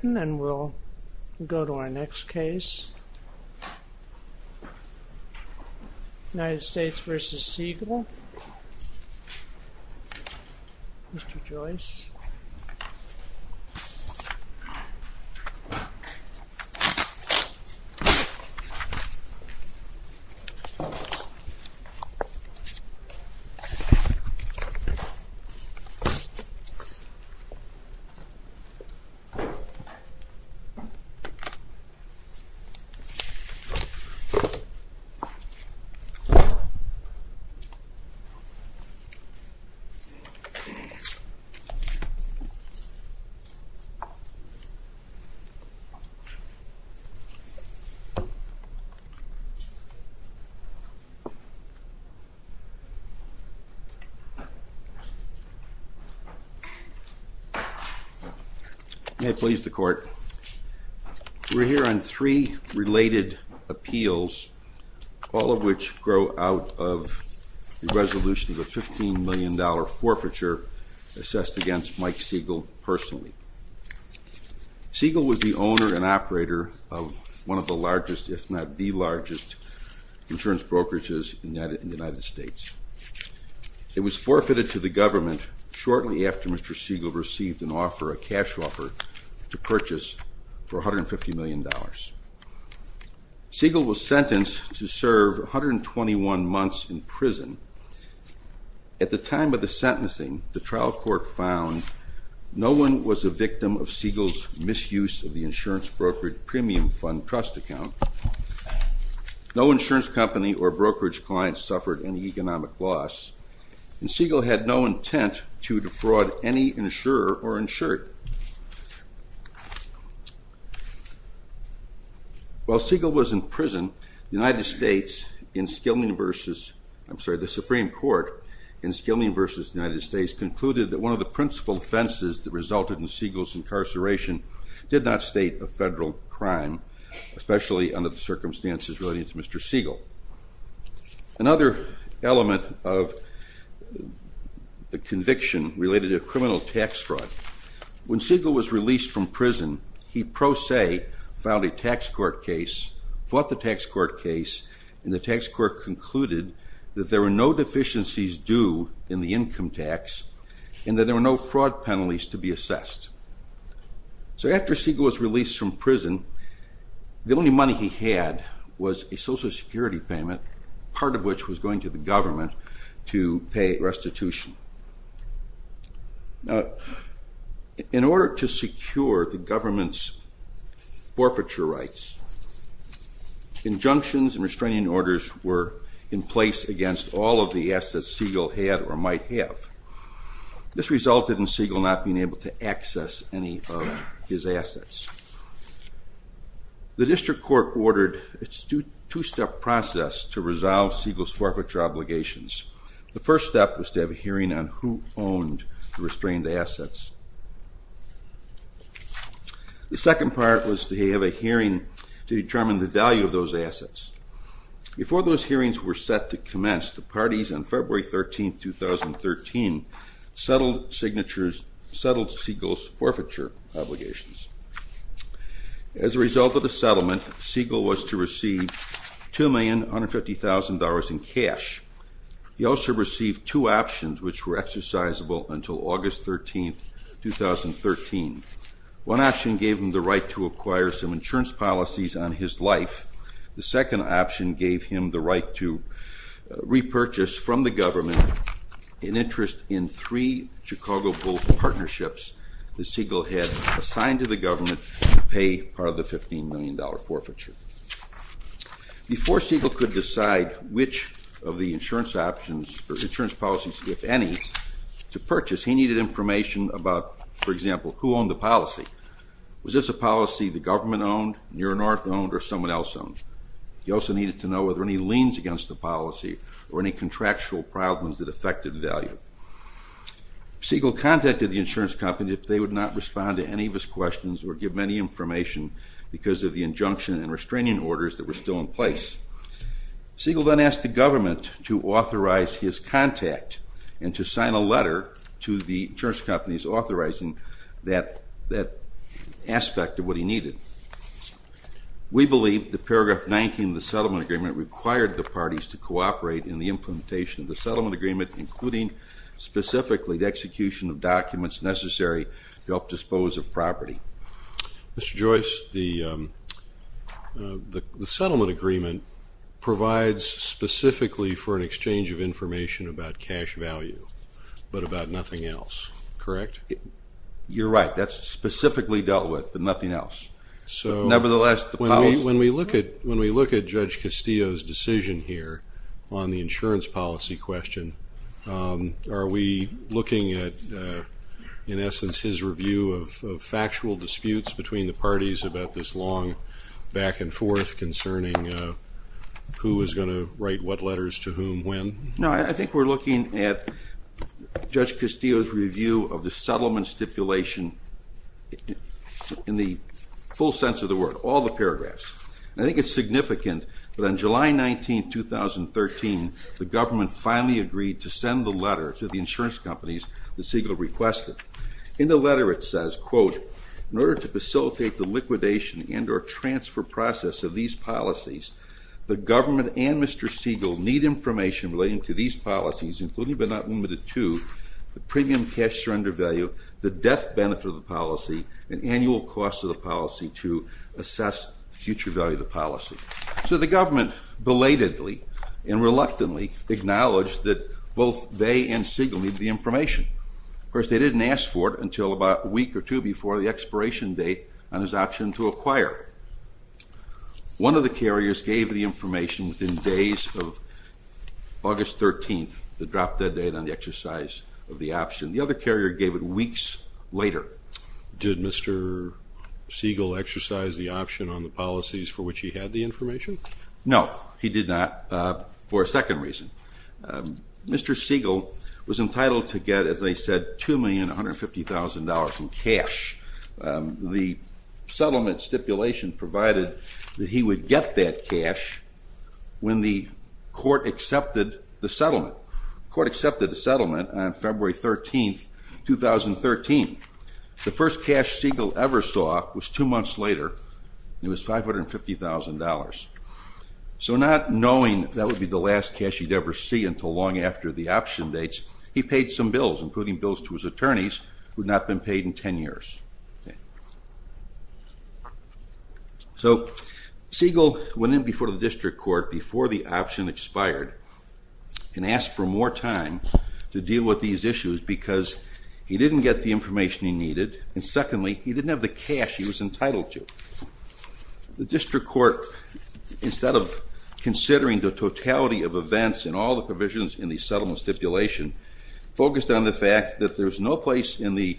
And then we'll go to our next case, United States v. Segal, Mr. Joyce. May it please the Court, Mr. Segal. We're here on three related appeals, all of which grow out of the resolution of a $15 million forfeiture assessed against Mike Segal personally. Segal was the owner and operator of one of the largest, if not the largest, insurance brokerages in the United States. It was forfeited to the government shortly after Mr. Segal received an offer, a cash offer, to purchase for $150 million. Segal was sentenced to serve 121 months in prison. At the time of the sentencing, the trial court found no one was a victim of Segal's misuse of the insurance brokerage premium fund trust account. No insurance company or any insurer or insured. While Segal was in prison, the United States in Skilman v. I'm sorry, the Supreme Court in Skilman v. United States concluded that one of the principal offenses that resulted in Segal's incarceration did not state a federal crime, especially under the circumstances relating to Mr. Segal. Another element of the conviction related to criminal tax fraud. When Segal was released from prison, he pro se filed a tax court case, fought the tax court case, and the tax court concluded that there were no deficiencies due in the income tax and that there were no fraud penalties to be assessed. So after Segal was released from prison, the only money he had was a Social Security payment, part of which was going to the government to pay restitution. In order to secure the government's forfeiture rights, injunctions and restraining orders were in place against all of the assets Segal had or might have. This resulted in Segal not being able to access any of assets. The district court ordered a two-step process to resolve Segal's forfeiture obligations. The first step was to have a hearing on who owned the restrained assets. The second part was to have a hearing to determine the value of those assets. Before those hearings were set to commence, the parties on February Segal's forfeiture obligations. As a result of the settlement, Segal was to receive $2,150,000 in cash. He also received two options which were exercisable until August 13, 2013. One option gave him the right to acquire some insurance policies on his life. The second option gave him the right to repurchase from the government an interest in three Chicago Bulls that Segal had assigned to the government to pay part of the $15 million forfeiture. Before Segal could decide which of the insurance options or insurance policies, if any, to purchase, he needed information about, for example, who owned the policy. Was this a policy the government owned, your north owned, or someone else owned? He also needed to know whether any liens against the policy or any contractual problems that affected value. Segal contacted the insurance companies if they would not respond to any of his questions or give many information because of the injunction and restraining orders that were still in place. Segal then asked the government to authorize his contact and to sign a letter to the insurance companies authorizing that aspect of what he needed. We believe that paragraph 19 of the settlement agreement required the parties to cooperate in the implementation of the settlement agreement, including specifically the necessary to help dispose of property. Mr. Joyce, the settlement agreement provides specifically for an exchange of information about cash value, but about nothing else, correct? You're right, that's specifically dealt with, but nothing else. So, nevertheless, when we look at Judge Castillo's decision here on the insurance policy question, are we looking at, in essence, his review of factual disputes between the parties about this long back-and-forth concerning who is going to write what letters to whom when? No, I think we're looking at Judge Castillo's review of the settlement stipulation in the full sense of the word, all the paragraphs. I think it's significant that on July 19, 2013, the government finally agreed to send the Segal requested. In the letter it says, quote, in order to facilitate the liquidation and or transfer process of these policies, the government and Mr. Segal need information relating to these policies, including but not limited to the premium cash surrender value, the death benefit of the policy, an annual cost of the policy to assess future value of the policy. So the government belatedly and reluctantly acknowledged that both they and Segal need the information. Of course, they didn't ask for it until about a week or two before the expiration date on his option to acquire. One of the carriers gave the information within days of August 13th, the drop-dead date on the exercise of the option. The other carrier gave it weeks later. Did Mr. Segal exercise the option on the policies for which he had the information? No, he did not for a second reason. Mr. Segal was entitled to get, as I said, $2,150,000 in cash. The settlement stipulation provided that he would get that cash when the court accepted the settlement. The court accepted the settlement on February 13th, 2013. The first cash Segal ever saw was two months later, it was $550,000. So not knowing that would be the last cash he'd ever see until long after the option dates, he paid some bills including bills to his attorneys who had not been paid in 10 years. So Segal went in before the district court before the option expired and asked for more time to deal with these issues because he didn't get the information he needed and secondly, he didn't have the cash he was considering the totality of events and all the provisions in the settlement stipulation focused on the fact that there's no place in the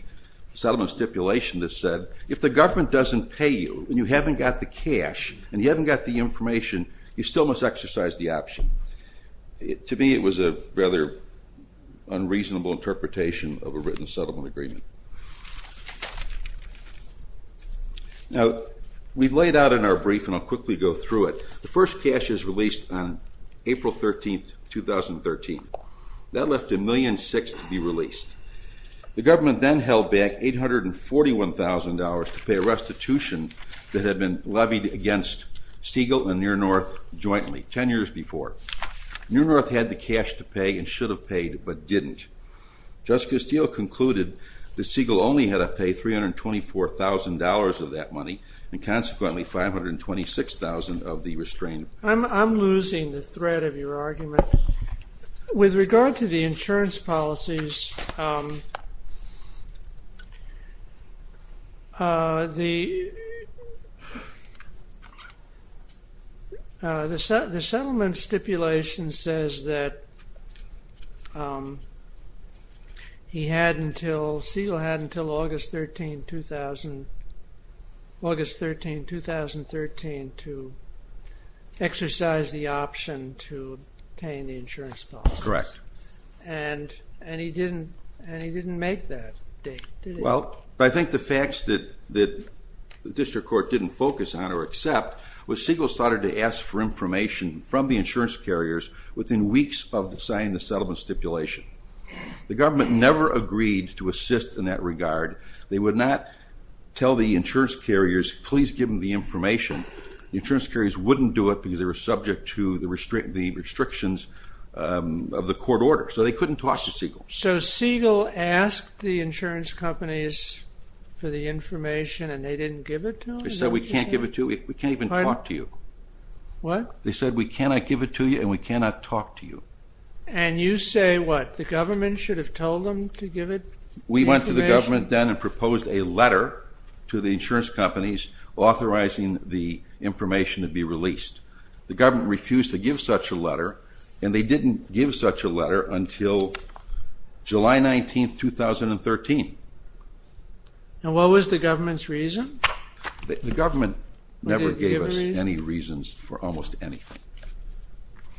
settlement stipulation that said if the government doesn't pay you and you haven't got the cash and you haven't got the information, you still must exercise the option. To me it was a rather unreasonable interpretation of a written settlement agreement. Now we've laid out in our brief and I'll quickly go through it, the first cash is released on April 13th, 2013. That left a million six to be released. The government then held back $841,000 to pay a restitution that had been levied against Segal and Near North jointly 10 years before. Near North had the cash to pay and should have paid but didn't. Justice Steele concluded that Segal only had to pay $324,000 of that money and consequently $526,000 of the restraint. I'm losing the thread of your argument. With regard to the insurance policies, the settlement stipulation says that he had until Segal had until August 13, 2013 to exercise the option to obtain the insurance policy. Correct. And he didn't make that date. Well, I think the facts that the district court didn't focus on or accept was Segal started to ask for information from the insurance carriers within weeks of signing the to assist in that regard. They would not tell the insurance carriers, please give them the information. The insurance carriers wouldn't do it because they were subject to the restrictions of the court order. So they couldn't talk to Segal. So Segal asked the insurance companies for the information and they didn't give it to them? They said we can't give it to you. We can't even talk to you. What? They said we cannot give it to you and we cannot talk to you. And you say what? The government should have told them to give it? We went to the government then and proposed a letter to the insurance companies authorizing the information to be released. The government refused to give such a letter and they didn't give such a letter until July 19, 2013. And what was the government's reason? The government never gave us any reasons for almost anything.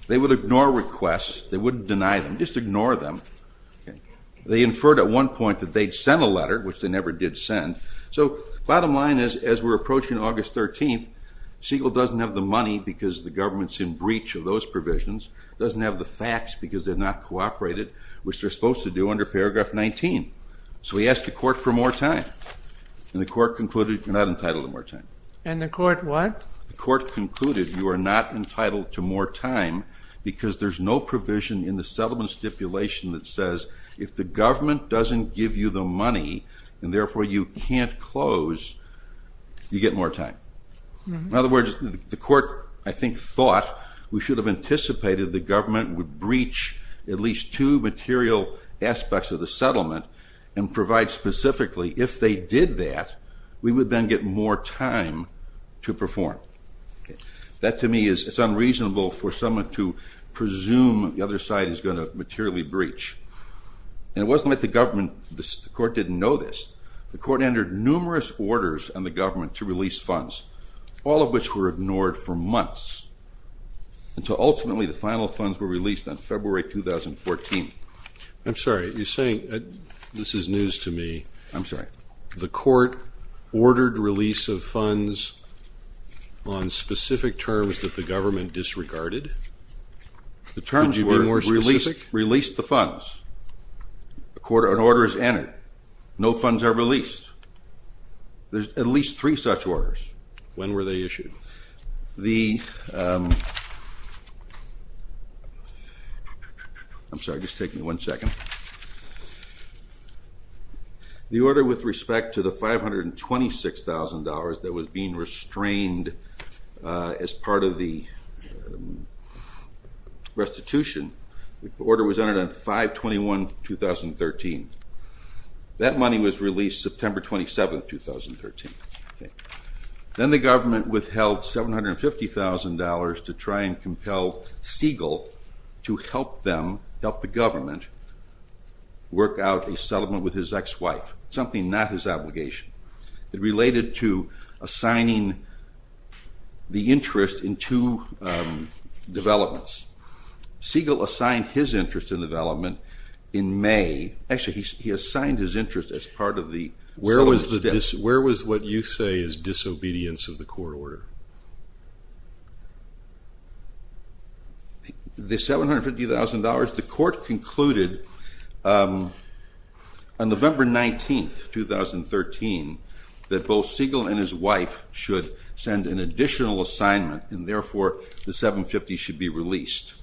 They would ignore requests, they wouldn't deny them, just ignore them. They inferred at one point that they'd sent a letter, which they never did send. So bottom line is as we're approaching August 13th, Segal doesn't have the money because the government's in breach of those provisions, doesn't have the facts because they're not cooperated, which they're supposed to do under paragraph 19. So he asked the court for more time and the court concluded you're not entitled to more time. And the court what? The court concluded you are not entitled to more time because there's no provision in the settlement stipulation that says if the government doesn't give you the money and therefore you can't close, you get more time. In other words, the court I think thought we should have anticipated the government would breach at least two material aspects of the settlement and provide specifically if they did that, we would then get more time to perform. That to me is unreasonable for someone to presume the other side is going to materially breach. And it wasn't like the government, the court didn't know this, the court entered numerous orders on the government to release funds, all of which were ignored for months until ultimately the final funds were released on February 2014. I'm sorry, you're saying this is news to me. I'm sorry. The court ordered release of funds on specific terms that the government disregarded? The terms were... Could you be more specific? ...released the funds. An order is entered. No funds are released. There's at least three such orders. When were they issued? The... I'm sorry, just take me one second. The order with respect to the $526,000 that was being restrained as part of the restitution, the order was entered on 5-21-2013. That money was released September 27th, 2013. Then the government withheld $750,000 to try and compel Siegel to help them, help the government, work out a settlement with his ex-wife. Something not his obligation. It related to assigning the interest in two developments. Siegel assigned his interest in development in May, actually he assigned his interest as part of the... Where was the, where was what you say is disobedience of the court order? The $750,000, the court concluded on November 19th, 2013, that both Siegel and his wife should send an additional assignment and therefore the $750,000 should be released.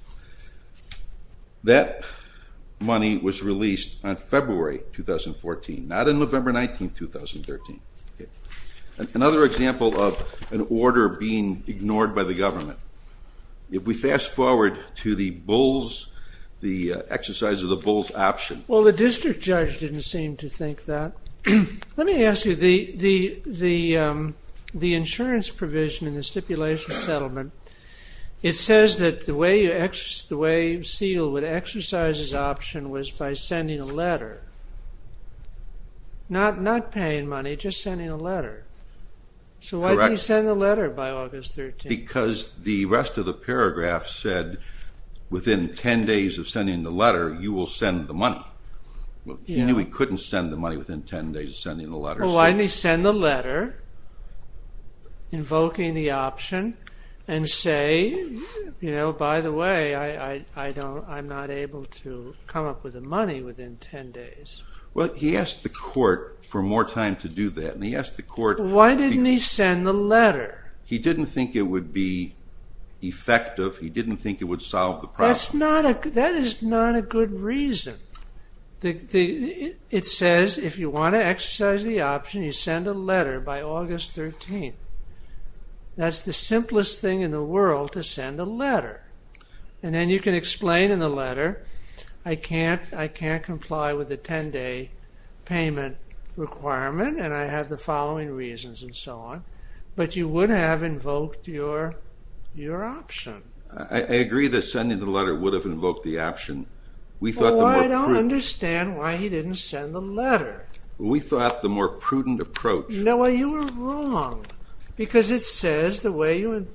That money was released on February 2014, not on November 19th, 2013. Another example of an order being ignored by the government. If we fast forward to the Bulls, the exercise of the to think that. Let me ask you, the insurance provision in the stipulation settlement, it says that the way Siegel would exercise his option was by sending a letter. Not paying money, just sending a letter. So why did he send the letter by August 13th? Because the rest of the paragraph said within 10 days of sending the letter you will send the money. He knew he couldn't send the money within 10 days of sending the letter. Well why didn't he send the letter invoking the option and say, you know, by the way I don't, I'm not able to come up with the money within 10 days. Well he asked the court for more time to do that and he asked the court... Why didn't he send the letter? He didn't think it would be effective, he didn't think it would solve the problem. That's not a, that is not a good reason. It says if you want to exercise the option you send a letter by August 13th. That's the simplest thing in the world to send a letter. And then you can explain in the letter I can't, I can't comply with the 10-day payment requirement and I have the following reasons and so on. But you would have invoked your option. I agree that sending the letter would have invoked the option. We thought the more prudent... Well I don't understand why he didn't send the letter. We thought the more prudent approach... No, you were wrong because it says the way you would,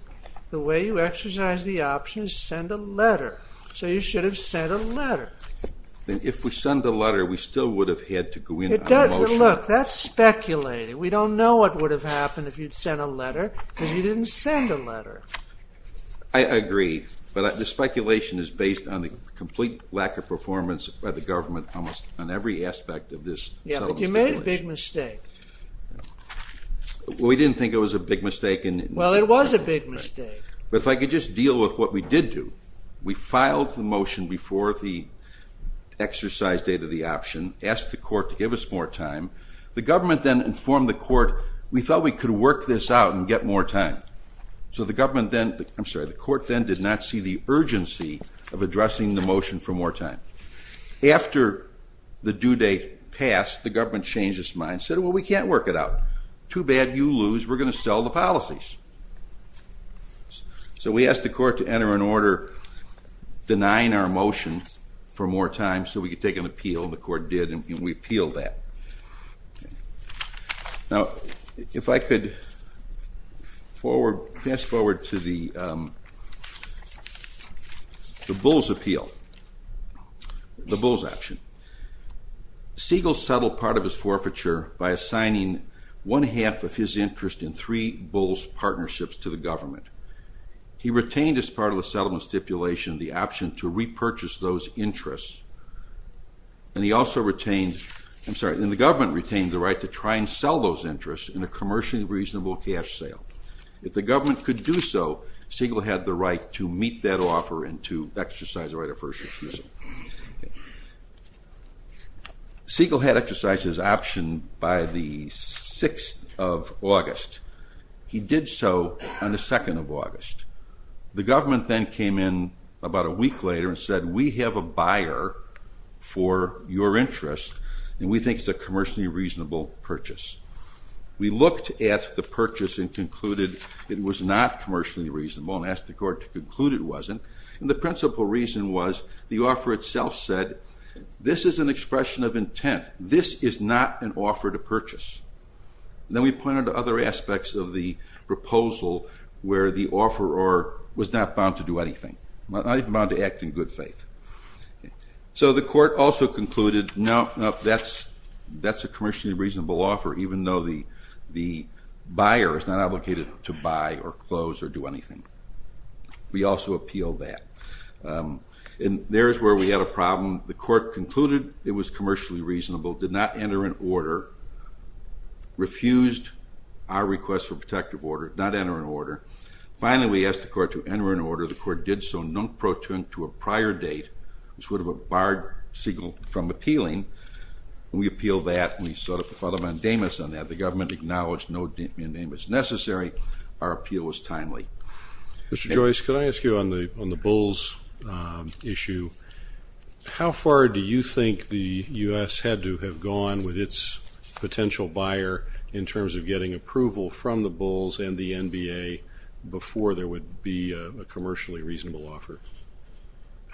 the way you exercise the option is send a letter. So you should have sent a letter. Then if we send the letter we still would have had to go in on a motion. Look, that's speculating. We don't know what would have happened if you'd sent a letter because you didn't send a letter. I agree, but the speculation is based on the complete lack of performance by the government almost on every aspect of this. Yeah, but you made a big mistake. We didn't think it was a big mistake. Well it was a big mistake. But if I could just deal with what we did do. We filed the motion before the exercise date of the option, asked the court to give us more time. The government then informed the court we thought we could work this out and get more time. So the government then, I'm sorry, the court then did not see the urgency of addressing the motion for more time. After the due date passed, the government changed its mind, said well we can't work it out. Too bad you lose, we're going to sell the policies. So we asked the court to enter an order denying our motion for more time so we could take an appeal and the court did and we appealed that. Now if I could forward, fast-forward to the Bulls appeal, the Bulls option. Siegel settled part of his forfeiture by assigning one-half of his interest in three Bulls partnerships to the government. He retained as part of the settlement stipulation the option to repurchase those interests and he also retained, I'm sorry, and the government retained the right to try and sell those interests in a commercially reasonable cash sale. If the government could do so, Siegel had the right to meet that offer and to exercise the right of first refusal. Siegel had exercised his option by the 6th of August. He did so on the 2nd of August. The government then came in about a week later and said we have a buyer for your interest and we think it's a commercially reasonable purchase. We looked at the purchase and concluded it was not commercially reasonable and asked the court to conclude it wasn't and the principal reason was the offer itself said this is an expression of intent, this is not an offer to purchase. Then we pointed to other aspects of the proposal where the offeror was not bound to do so. The court also concluded no, that's a commercially reasonable offer even though the buyer is not obligated to buy or close or do anything. We also appealed that and there's where we had a problem. The court concluded it was commercially reasonable, did not enter an order, refused our request for protective order, not enter an order. Finally, we asked the court to enter an order date which would have barred Siegel from appealing. We appealed that and we sought a pro bono ondamus on that. The government acknowledged no ondamus necessary. Our appeal was timely. Mr. Joyce, could I ask you on the Bulls issue, how far do you think the U.S. had to have gone with its potential buyer in terms of getting approval from the Bulls and the NBA before there would be a commercially reasonable offer?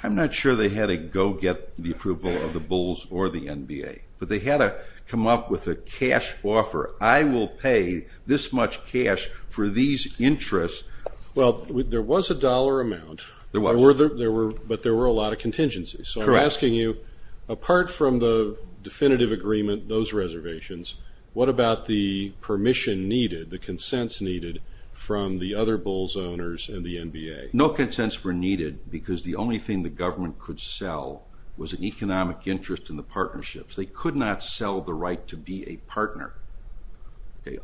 I'm not sure they had to go get the approval of the Bulls or the NBA, but they had to come up with a cash offer. I will pay this much cash for these interests. Well, there was a dollar amount, but there were a lot of contingencies. So I'm asking you, apart from the definitive agreement, those reservations, what about the permission needed, the Bulls and the NBA? No consents were needed because the only thing the government could sell was an economic interest in the partnerships. They could not sell the right to be a partner.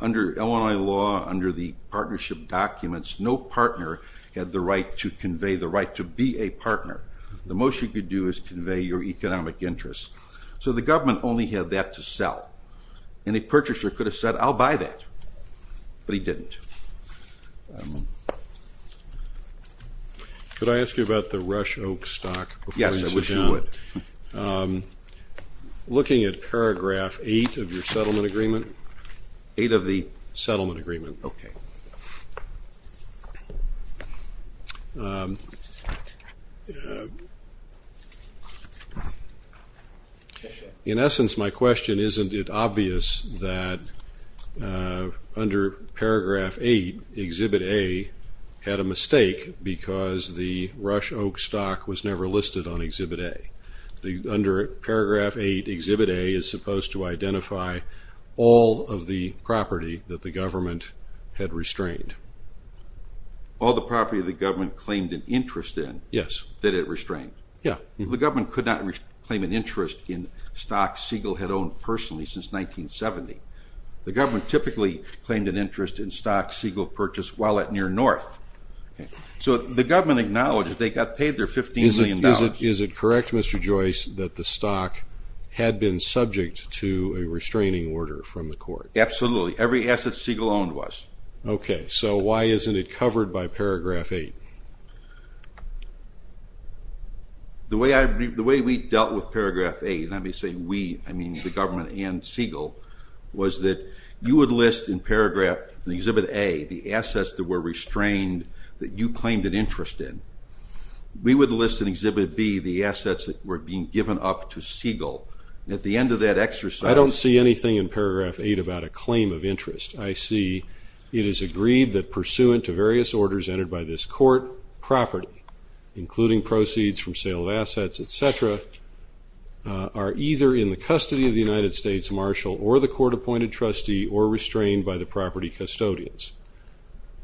Under Illinois law, under the partnership documents, no partner had the right to convey the right to be a partner. The most you could do is convey your economic interests. So the government only had that to sell. Any purchaser could have said, I'll buy that, but he didn't. Could I ask you about the Rush Oak stock? Yes, I wish you would. Looking at paragraph eight of your settlement agreement. Eight of the? Settlement agreement. Okay. In essence, my question, isn't it obvious that under paragraph eight, Exhibit A had a mistake because the Rush Oak stock was never listed on Exhibit A? Under paragraph eight, Exhibit A is supposed to identify all of the property that the government had restrained. All the property the government claimed an interest in? Yes. That it restrained? Yeah. The government could not claim an interest in the stock Siegel had owned personally since 1970. The government typically claimed an interest in stock Siegel purchased while at near north. So the government acknowledged they got paid their 15 million dollars. Is it correct, Mr. Joyce, that the stock had been subject to a restraining order from the court? Absolutely. Every asset Siegel owned was. Okay, so why isn't it covered by paragraph eight? The way we dealt with paragraph eight, let me say we, I mean the government and Siegel, was that you would list in paragraph, in Exhibit A, the assets that were restrained that you claimed an interest in. We would list in Exhibit B the assets that were being given up to Siegel. At the end of that exercise. I don't see anything in paragraph eight about a claim of interest. I see it is agreed that pursuant to various orders entered by this court, property, including proceeds from sale of assets, etc., are either in the custody of the United States Marshal or the court-appointed trustee or restrained by the property custodians.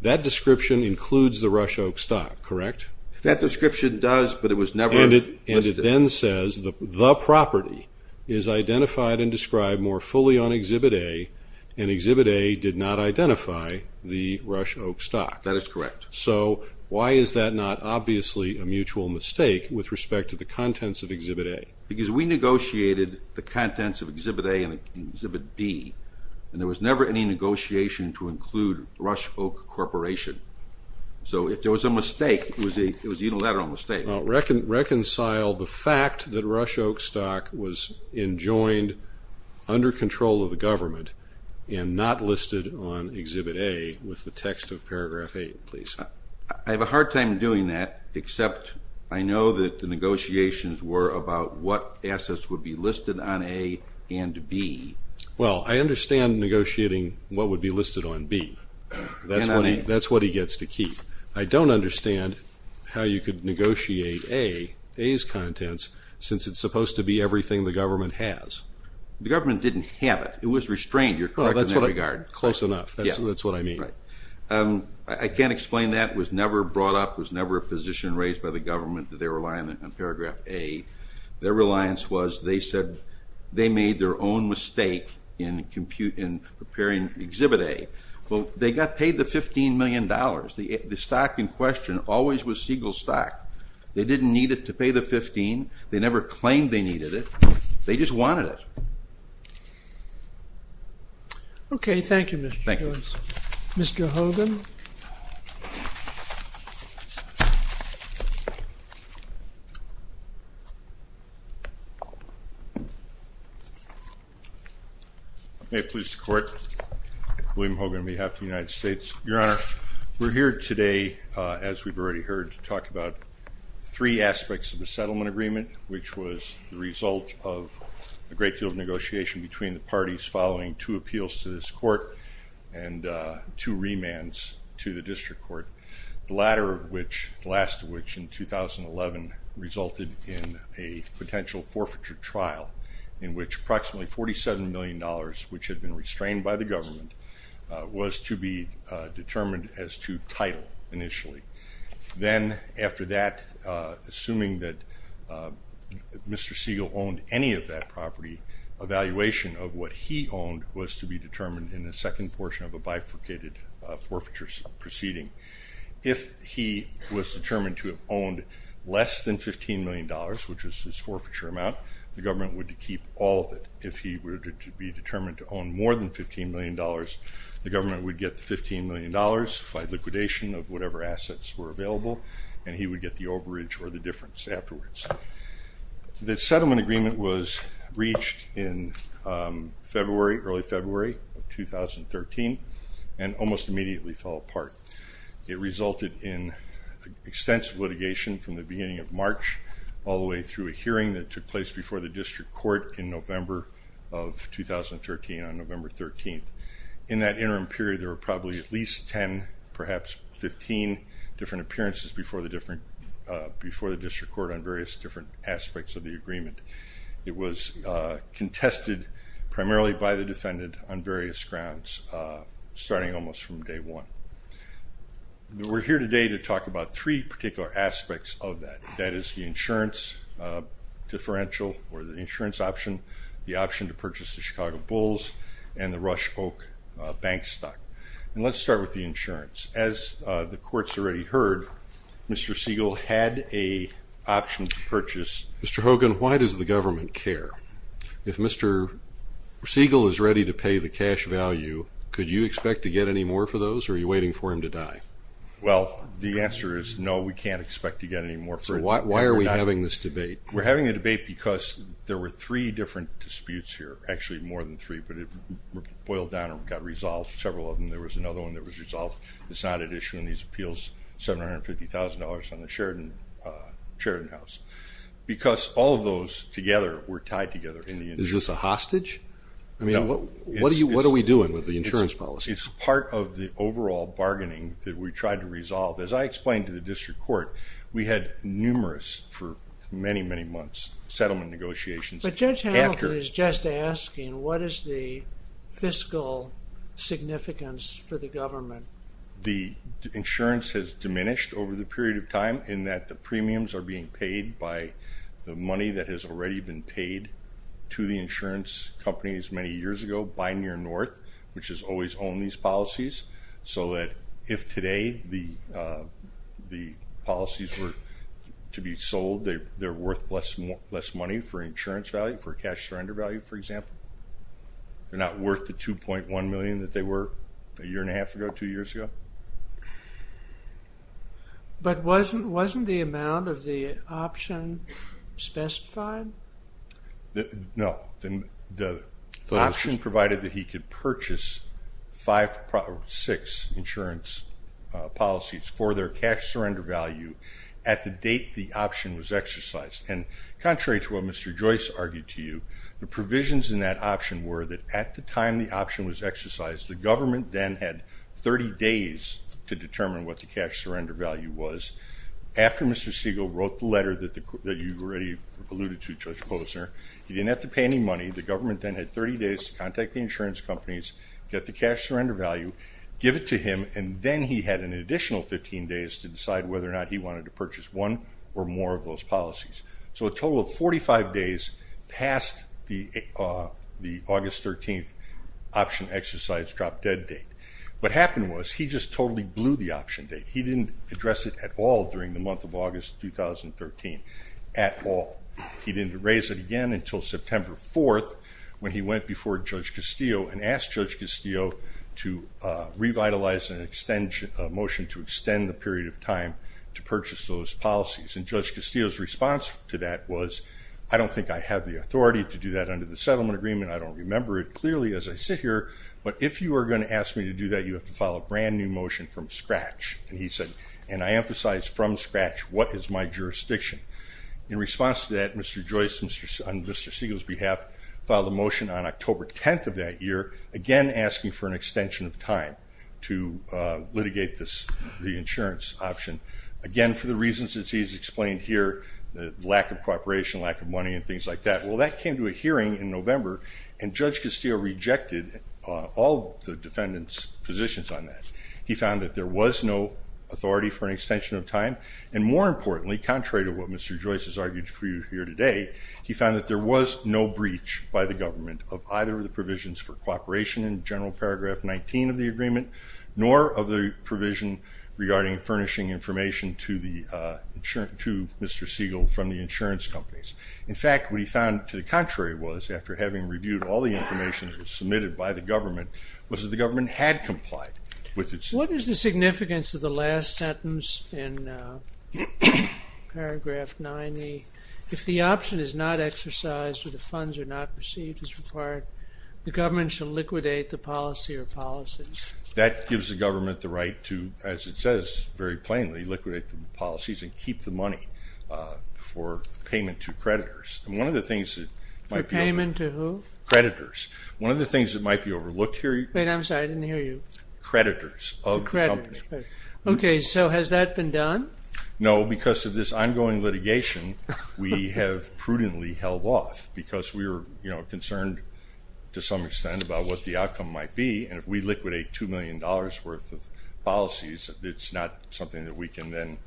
That description includes the Rush Oak stock, correct? That description does, but it was never listed. And it then says the property is identified and described more fully on Exhibit A, and Exhibit A did not identify the Rush Oak stock. That is correct. So why is that not obviously a mutual mistake with respect to the contents of Exhibit A? Because we negotiated the contents of Exhibit A and Exhibit B, and there was never any negotiation to include Rush Oak Corporation. So if there was a mistake, it was a unilateral mistake. Reconcile the fact that Rush Oak stock was enjoined under control of the government and not listed on Exhibit A with the text of paragraph eight, please. I have a hard time doing that, except I know that the negotiations were about what assets would be listed on A and B. Well, I understand negotiating what would be listed on B. That's what he gets to keep. I don't understand how you could negotiate A's contents, since it's supposed to be everything the government has. The government didn't have it. It was restrained, you're correct in that regard. Close enough, that's what I mean. I can't explain that, was never brought up, was never a position raised by the government on paragraph A. Their reliance was, they said they made their own mistake in preparing Exhibit A. Well, they got paid the 15 million dollars. The stock in question always was Siegel stock. They didn't need it to pay the 15. They never claimed they needed it. They just wanted it. Okay, thank you, Mr. Joyce. Mr. Hogan. May it please the Court, William Hogan on behalf of the United States. Your Honor, we're here today, as we've already heard, to talk about three aspects of the settlement agreement, which was the result of a great deal of negotiation between the parties following two appeals to this court and two remands to the district court. The latter of which, the last of which, in 2011 resulted in a potential forfeiture trial, in which approximately 47 million dollars, which had been restrained by the government, was to be determined as to title initially. Then, after that, assuming that Mr. Siegel owned any of that property, evaluation of what he owned was to be determined in the second portion of a bifurcated forfeiture proceeding. If he was determined to have owned less than 15 million dollars, which was his forfeiture amount, the government would keep all of it. If he were to be determined to own more than 15 million dollars, the government would get the 15 million dollars by liquidation of whatever assets were available, and he would get the overage or the difference afterwards. The settlement agreement was reached in February, early February of 2013, and almost immediately fell apart. It resulted in extensive litigation from the beginning of March, all the way through a hearing that took place before the district court in November of 2013, on November 13th. In that interim period, there were probably at least 10, perhaps 15, different appearances before the district court on various different aspects of the agreement. It was contested primarily by the defendant on various grounds, starting almost from day one. We're here today to talk about three particular aspects of that. That is the insurance differential, or the insurance option, the option to purchase the Chicago Bulls, and the Rush Oak bank stock. And let's start with the insurance. As the court's already heard, Mr. Siegel had a option to purchase... Mr. Hogan, why does the government care? If Mr. Siegel is ready to pay the cash value, could you expect to get any more for those, or are you waiting for him to die? Well, the answer is no, we can't expect to get any more for him to die. So why are we having this debate? We're having a debate because there were three different disputes here, actually more than three, but it boiled down and got resolved. Several of them, there was another one that was resolved. It's not at issuing these appeals, $750,000 on the Sheridan House, because all of those together were tied together in the insurance. Is this a hostage? I mean, what are we doing with the insurance policy? It's part of the overall bargaining that we tried to resolve. As I explained to the district court, we had numerous, for many, many months, settlement negotiations. But Judge Halder is just asking, what is the fiscal significance for the government? The insurance has diminished over the period of time in that the premiums are being paid by the money that has already been paid to the insurance companies many years ago by Near North, which has always owned these policies, so that if today the policies were to be sold, they're worth less money for insurance value, for cash surrender value, for example. They're not worth the $2.1 million that they were a year and a half ago, two years ago. But wasn't the amount of the option specified? No. The option provided that he could purchase six insurance policies for their cash surrender value at the date the option was exercised. And contrary to what Mr. Joyce argued to you, the provisions in that option were that at the time the option was exercised, the government then had 30 days to determine what the cash surrender value was. After Mr. Siegel wrote the letter that you've already alluded to, Judge Posner, he didn't have to pay any money. The government then had 30 days to contact the insurance companies, get the cash surrender value, give it to him, and then he had an additional 15 days to decide whether or not he wanted to purchase one or more of those policies. So a total of 45 days past the August 13th option exercise drop-dead date. What happened was he just totally blew the option date. He didn't address it at all during the month of August 2013, at all. He didn't raise it again until September 4th when he went before Judge Castillo and asked Judge Castillo to revitalize a motion to extend the period of time to purchase those policies. And Judge Castillo's response to that was, I don't think I have the authority to do that under the settlement agreement. I don't remember it clearly as I sit here, but if you are going to ask me to do that, you have to file a brand new motion from scratch. And he said, and I emphasize from scratch, what is my jurisdiction? In response to that, Mr. Joyce on Mr. Siegel's behalf filed a motion on October 10th of that year, again asking for an extension of time to litigate the insurance option. Again, for the reasons that he has explained here, the lack of cooperation, lack of money, and things like that. Well, that came to a hearing in November and Judge Castillo rejected all the defendant's positions on that. He found that there was no authority for an extension of time. And more importantly, contrary to what Mr. Joyce has argued for you here today, he found that there was no breach by the government of either of the provisions for cooperation in General Paragraph 19 of the agreement, nor of the provision regarding furnishing information to Mr. Siegel from the insurance companies. In fact, what he found to the contrary was, after having reviewed all the information that was submitted by the government, was that the government had complied with its significance of the last sentence in Paragraph 90. If the option is not exercised or the funds are not received as required, the government shall liquidate the policy or policies. That gives the government the right to, as it says very plainly, liquidate the policies and keep the money for payment to creditors. And one of the things that might be overlooked here... Wait, I'm sorry, I didn't hear you. Creditors of the company. Okay, so has that been done? No, because of this ongoing litigation, we have prudently held off because we were, you know, concerned to some extent about what the outcome might be. And if we liquidate $2 million worth of policies, it's not something that we can then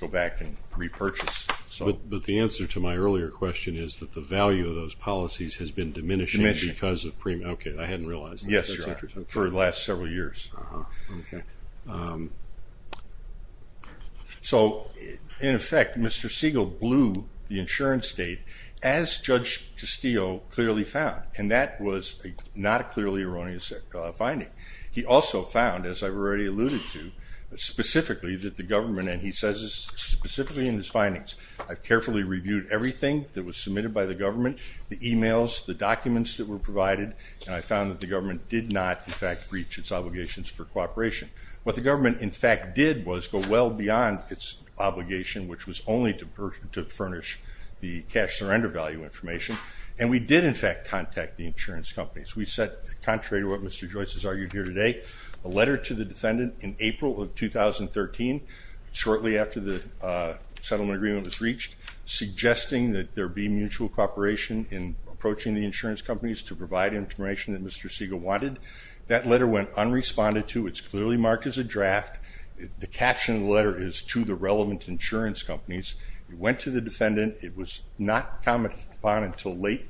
go back and repurchase. But the answer to my earlier question is that the value of those policies has been diminishing because of premiums. Okay, I hadn't realized that. Yes, for the last several years. So, in effect, Mr. Siegel blew the insurance date, as Judge Castillo clearly found. And that was not a clearly erroneous finding. He also found, as I've already alluded to, specifically that the government, and he says this specifically in his findings, I've carefully reviewed everything that was submitted by the government, the emails, the documents that were provided, and I found that the government did not, in fact, breach its obligations for cooperation. What the government, in fact, did was go well beyond its obligation, which was only to furnish the cash surrender value information. And we did, in fact, contact the insurance companies. We sent, contrary to what Mr. Joyce has argued here today, a letter to the defendant in April of 2013, shortly after the settlement agreement was reached, suggesting that there be mutual cooperation in approaching the insurance companies to provide information that Mr. Siegel wanted. That letter went unresponded to. It's clearly marked as a draft. The caption of the letter is, to the relevant insurance companies. It went to the defendant. It was not commented upon until late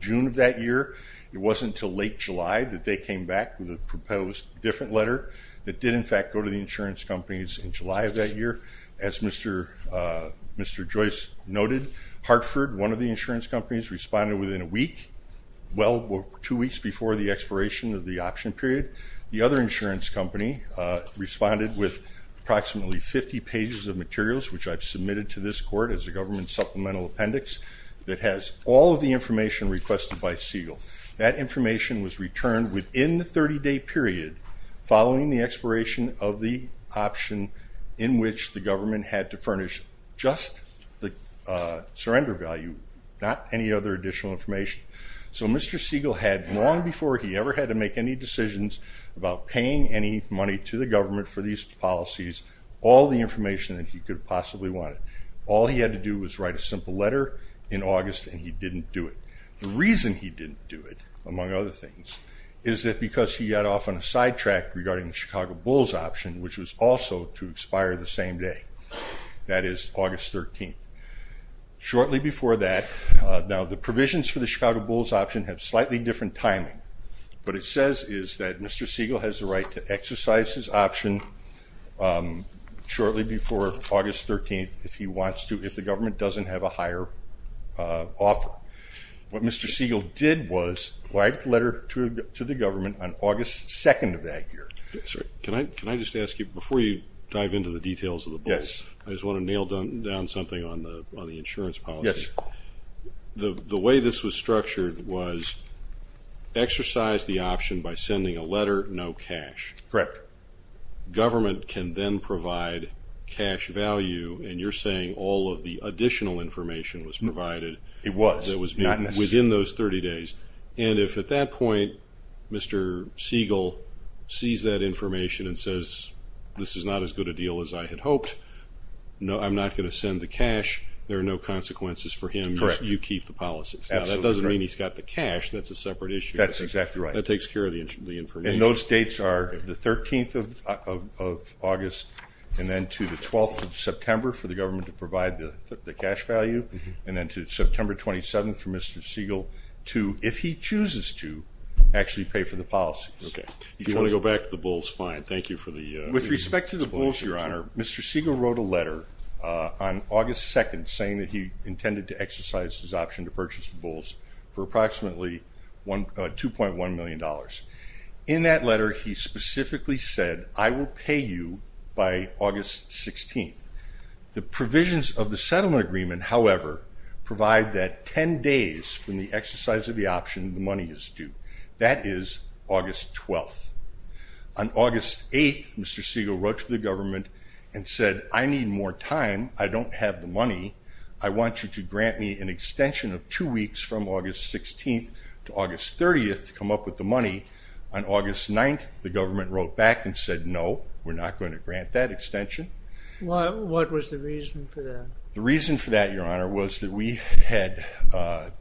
June of that year. It wasn't until late July that they came back with a proposed different letter that did, in fact, go to the insurance companies in July of that year. As Mr. Joyce noted, Hartford, one of the insurance companies, responded within a week, well over two weeks before the expiration of the option period. The other insurance company responded with approximately 50 pages of materials, which I've submitted to this court as a government supplemental appendix, that has all of the information requested by Siegel. That information was returned within the 30-day period following the expiration of the option in which the government had to furnish just the surrender value, not any other additional information. So Mr. Siegel had, long before he ever had to make any decisions about paying any money to the government for these policies, all the information that he could have possibly wanted. All he had to do was write a simple letter in August, and he didn't do it. The reason he didn't do it, among other things, is that because he got off on a sidetrack regarding the Chicago Bulls option, which was also to expire the same day, that is August 13th. Shortly before that, now the provisions for the Chicago Bulls option have slightly different timing. What it says is that Mr. Siegel has the right to exercise his option shortly before August 13th if he wants to, if the government doesn't have a higher offer. What Mr. Siegel did was write a letter to the government on August 2nd of that year. Can I just ask you, before you dive into the details of the Bulls, I just want to nail down something on the insurance policy. Yes. The way this was structured was exercise the option by sending a letter, no cash. Correct. Government can then provide cash value, and you're saying all of the additional information was provided. It was. Within those 30 days. And if at that point Mr. Siegel sees that information and says, this is not as good a deal as I had hoped, I'm not going to send the cash, there are no consequences for him, you keep the policies. That doesn't mean he's got the cash. That's a separate issue. That's exactly right. That takes care of the information. And those dates are the 13th of August and then to the 12th of September for the government to provide the cash value, and then to September 27th for Mr. Siegel to, if he chooses to, actually pay for the policies. If you want to go back to the Bulls, fine. Thank you for the explanation. With respect to the Bulls, Your Honor, Mr. Siegel wrote a letter on August 2nd saying that he intended to exercise his option to purchase the Bulls for approximately $2.1 million. In that letter he specifically said, I will pay you by August 16th. The provisions of the settlement agreement, however, provide that 10 days from the exercise of the option, the money is due. That is August 12th. On August 8th, Mr. Siegel wrote to the government and said, I need more time, I don't have the money, I want you to grant me an extension of two weeks from August 16th to August 30th to come up with the money. On August 9th, the government wrote back and said, no, we're not going to grant that extension. What was the reason for that? The reason for that, Your Honor, was that we had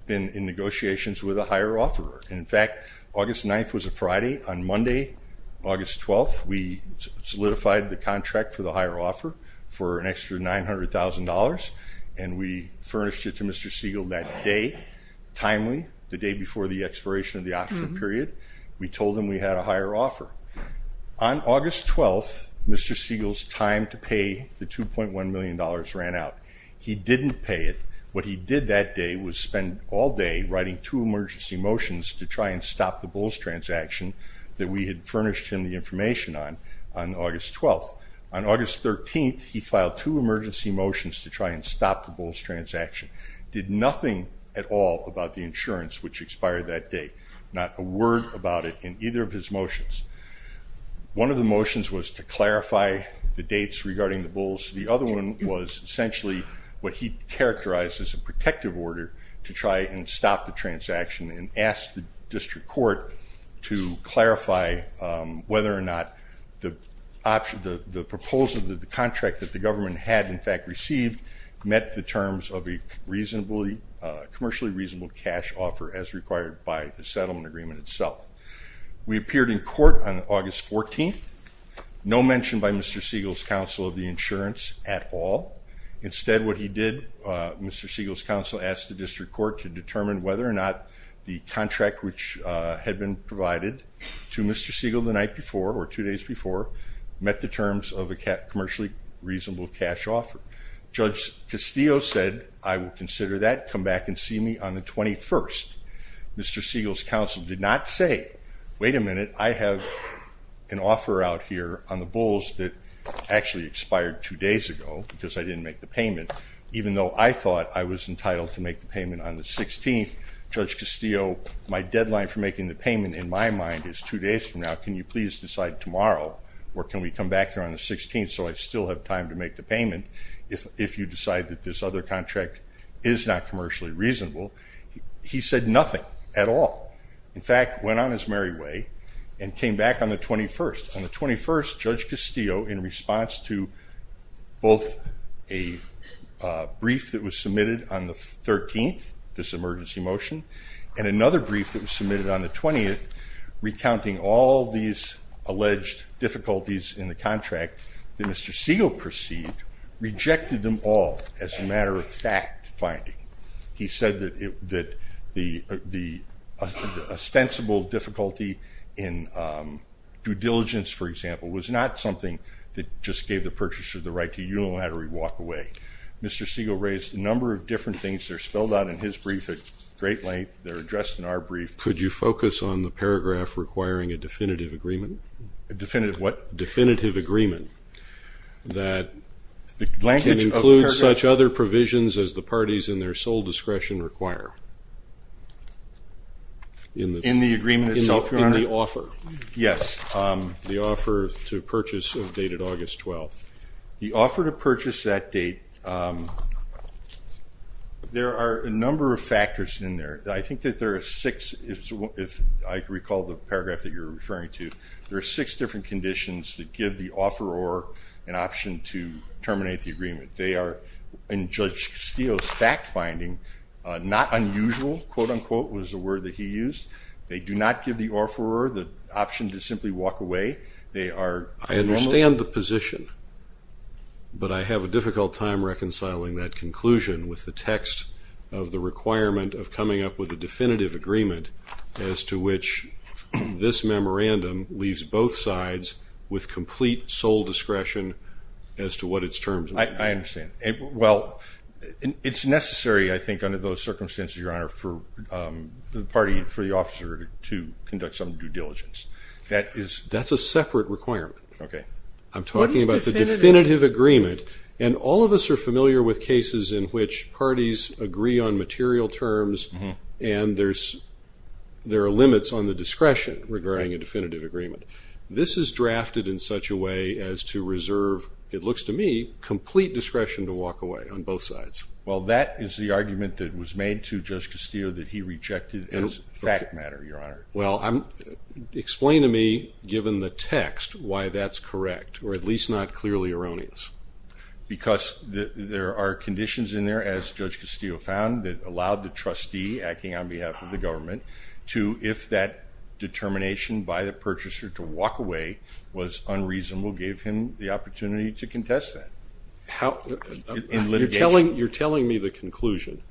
been in negotiations with a higher offeror. In fact, August 9th was a Friday. On Monday, August 12th, we solidified the contract for the higher offer for an extra $900,000, and we furnished it to Mr. Siegel that day, timely, the day before the expiration of the option period. We told him we had a higher offer. On August 12th, Mr. Siegel's time to pay the $2.1 million ran out. He didn't pay it. What he did that day was spend all day writing two emergency motions to try and stop the bulls transaction that we had furnished him the information on, on August 12th. On August 13th, he filed two emergency motions to try and stop the bulls transaction. He did nothing at all about the insurance, which expired that day, not a word about it in either of his motions. One of the motions was to clarify the dates regarding the bulls. The other one was essentially what he characterized as a protective order to try and stop the transaction and ask the district court to clarify whether or not the proposal, the contract that the government had, in fact, received, met the terms of a commercially reasonable cash offer as required by the settlement agreement itself. We appeared in court on August 14th, no mention by Mr. Siegel's counsel of the insurance at all. Instead, what he did, Mr. Siegel's counsel asked the district court to determine whether or not the contract which had been provided to Mr. Siegel the night before, or two days before, met the terms of a commercially reasonable cash offer. Judge Castillo said, I will consider that. Come back and see me on the 21st. Mr. Siegel's counsel did not say, wait a minute, I have an offer out here on the bulls that actually expired two days ago because I didn't make the payment, even though I thought I was entitled to make the payment on the 16th. Judge Castillo, my deadline for making the payment, in my mind, is two days from now. Can you please decide tomorrow or can we come back here on the 16th so I still have time to make the payment if you decide that this other contract is not commercially reasonable? He said nothing at all. In fact, went on his merry way and came back on the 21st. On the 21st, Judge Castillo, in response to both a brief that was submitted on the 13th, this emergency motion, and another brief that was submitted on the 20th, recounting all these alleged difficulties in the contract that Mr. Siegel perceived, rejected them all as a matter of fact finding. He said that the ostensible difficulty in due diligence, for example, was not something that just gave the purchaser the right to unilaterally walk away. Mr. Siegel raised a number of different things that are spelled out in his brief at great length. They're addressed in our brief. Could you focus on the paragraph requiring a definitive agreement? A definitive what? Definitive agreement that can include such other provisions as the parties in their sole discretion require. In the agreement itself, Your Honor? In the offer. Yes. The offer to purchase of date at August 12th. The offer to purchase that date, there are a number of factors in there. I think that there are six, if I recall the paragraph that you're referring to, there are six different conditions that give the offeror an option to terminate the agreement. They are, in Judge Castillo's fact finding, not unusual, quote, unquote, was the word that he used. They do not give the offeror the option to simply walk away. I understand the position, but I have a difficult time reconciling that conclusion with the text of the requirement of coming up with a definitive agreement as to which this memorandum leaves both sides with complete sole discretion as to what its terms may be. I understand. Well, it's necessary, I think, under those circumstances, Your Honor, for the party, for the offeror to conduct some due diligence. That's a separate requirement. Okay. I'm talking about the definitive agreement, and all of us are familiar with cases in which parties agree on material terms and there are limits on the discretion regarding a definitive agreement. This is drafted in such a way as to reserve, it looks to me, complete discretion to walk away on both sides. Well, that is the argument that was made to Judge Castillo that he rejected as a fact matter, Your Honor. Well, explain to me, given the text, why that's correct, or at least not clearly erroneous. Because there are conditions in there, as Judge Castillo found, that allowed the trustee acting on behalf of the government to, if that determination by the purchaser to walk away was unreasonable, give him the opportunity to contest that in litigation. You're telling me the conclusion.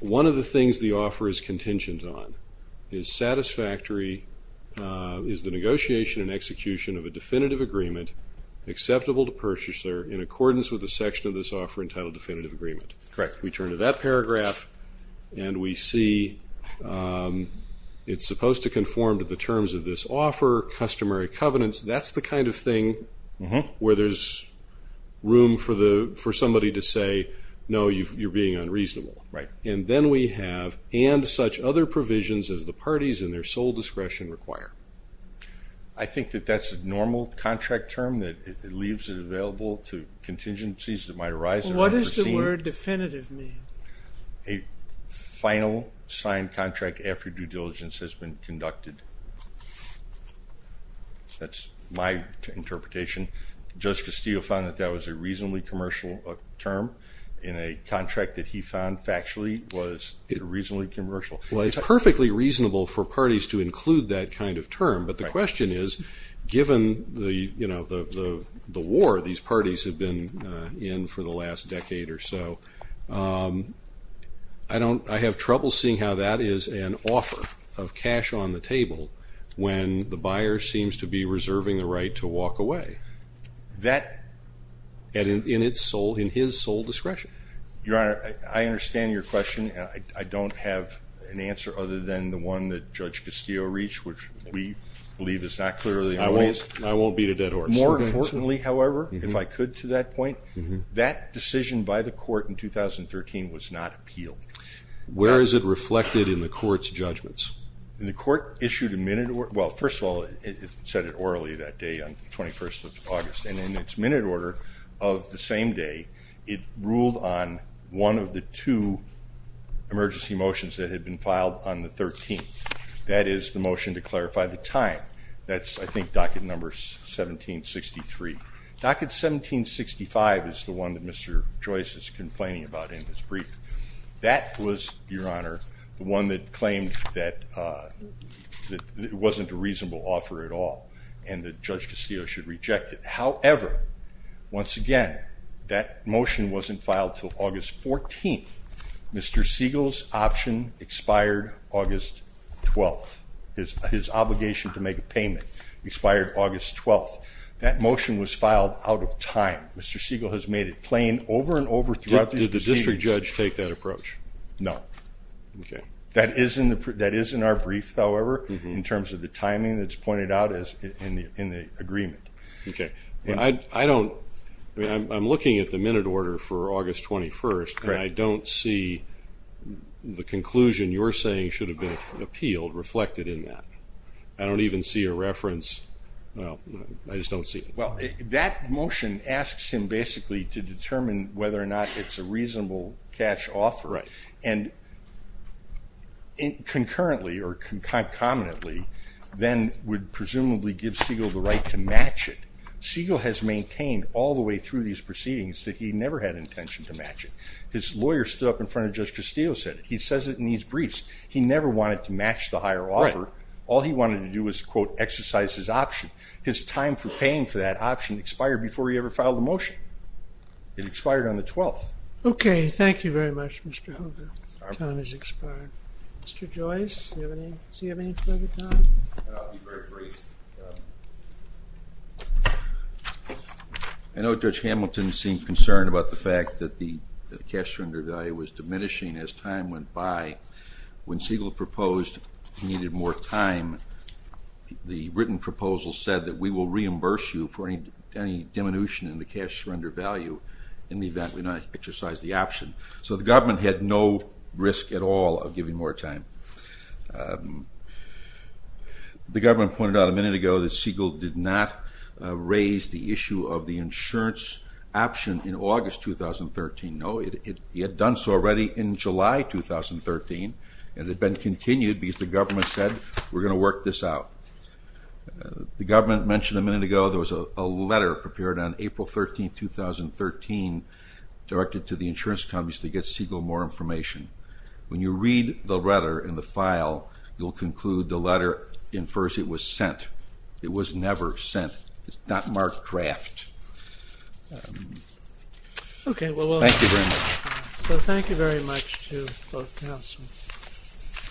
One of the things the offer is contingent on is satisfactory, is the negotiation and execution of a definitive agreement acceptable to purchaser in accordance with the section of this offer entitled definitive agreement. Correct. We turn to that paragraph and we see it's supposed to conform to the terms of this offer, customary covenants. That's the kind of thing where there's room for somebody to say, no, you're being unreasonable. Right. And then we have, and such other provisions as the parties and their sole discretion require. I think that that's a normal contract term that leaves it available to contingencies that might arise. What does the word definitive mean? A final signed contract after due diligence has been conducted. That's my interpretation. Judge Castillo found that that was a reasonably commercial term. In a contract that he found factually was reasonably commercial. Well, it's perfectly reasonable for parties to include that kind of term. But the question is, given the war these parties have been in for the last decade or so, I have trouble seeing how that is an offer of cash on the table when the buyer seems to be reserving the right to walk away. That, in his sole discretion. Your Honor, I understand your question. I don't have an answer other than the one that Judge Castillo reached, which we believe is not clear. I won't beat a dead horse. More importantly, however, if I could to that point, that decision by the court in 2013 was not appealed. Where is it reflected in the court's judgments? The court issued a minute or, well, first of all, it said it orally that day on the 21st of August. And in its minute order of the same day, it ruled on one of the two emergency motions that had been filed on the 13th. That is the motion to clarify the time. That's, I think, docket number 1763. Docket 1765 is the one that Mr. Joyce is complaining about in his brief. That was, Your Honor, the one that claimed that it wasn't a reasonable offer at all and that Judge Castillo should reject it. However, once again, that motion wasn't filed until August 14th. Mr. Siegel's option expired August 12th. His obligation to make a payment expired August 12th. That motion was filed out of time. Mr. Siegel has made it plain over and over throughout these proceedings. Did the district judge take that approach? No. Okay. That is in our brief, however, in terms of the timing that's pointed out in the agreement. Okay. I'm looking at the minute order for August 21st, and I don't see the conclusion you're saying should have been appealed reflected in that. I don't even see a reference. I just don't see it. Well, that motion asks him basically to determine whether or not it's a reasonable cash offer. Right. And concurrently or concomitantly, then would presumably give Siegel the right to match it. Siegel has maintained all the way through these proceedings that he never had intention to match it. His lawyer stood up in front of Judge Castillo and said it. He says it in these briefs. He never wanted to match the higher offer. All he wanted to do was, quote, exercise his option. His time for paying for that option expired before he ever filed a motion. It expired on the 12th. Okay. Thank you very much, Mr. Hogan. Time has expired. Mr. Joyce, do you have any further comments? I'll be very brief. I know Judge Hamilton seemed concerned about the fact that the cash surrender value was diminishing as time went by. When Siegel proposed he needed more time, the written proposal said that we will reimburse you for any diminution in the cash surrender value in the event we not exercise the option. So the government had no risk at all of giving more time. The government pointed out a minute ago that Siegel did not raise the issue of the insurance option in August 2013. No, he had done so already in July 2013, and it had been continued because the government said we're going to work this out. The government mentioned a minute ago there was a letter prepared on April 13, 2013 directed to the insurance companies to get Siegel more information. When you read the letter in the file, you'll conclude the letter infers it was sent. It was never sent. It's not marked draft. Okay. Thank you very much. So thank you very much to both counselors.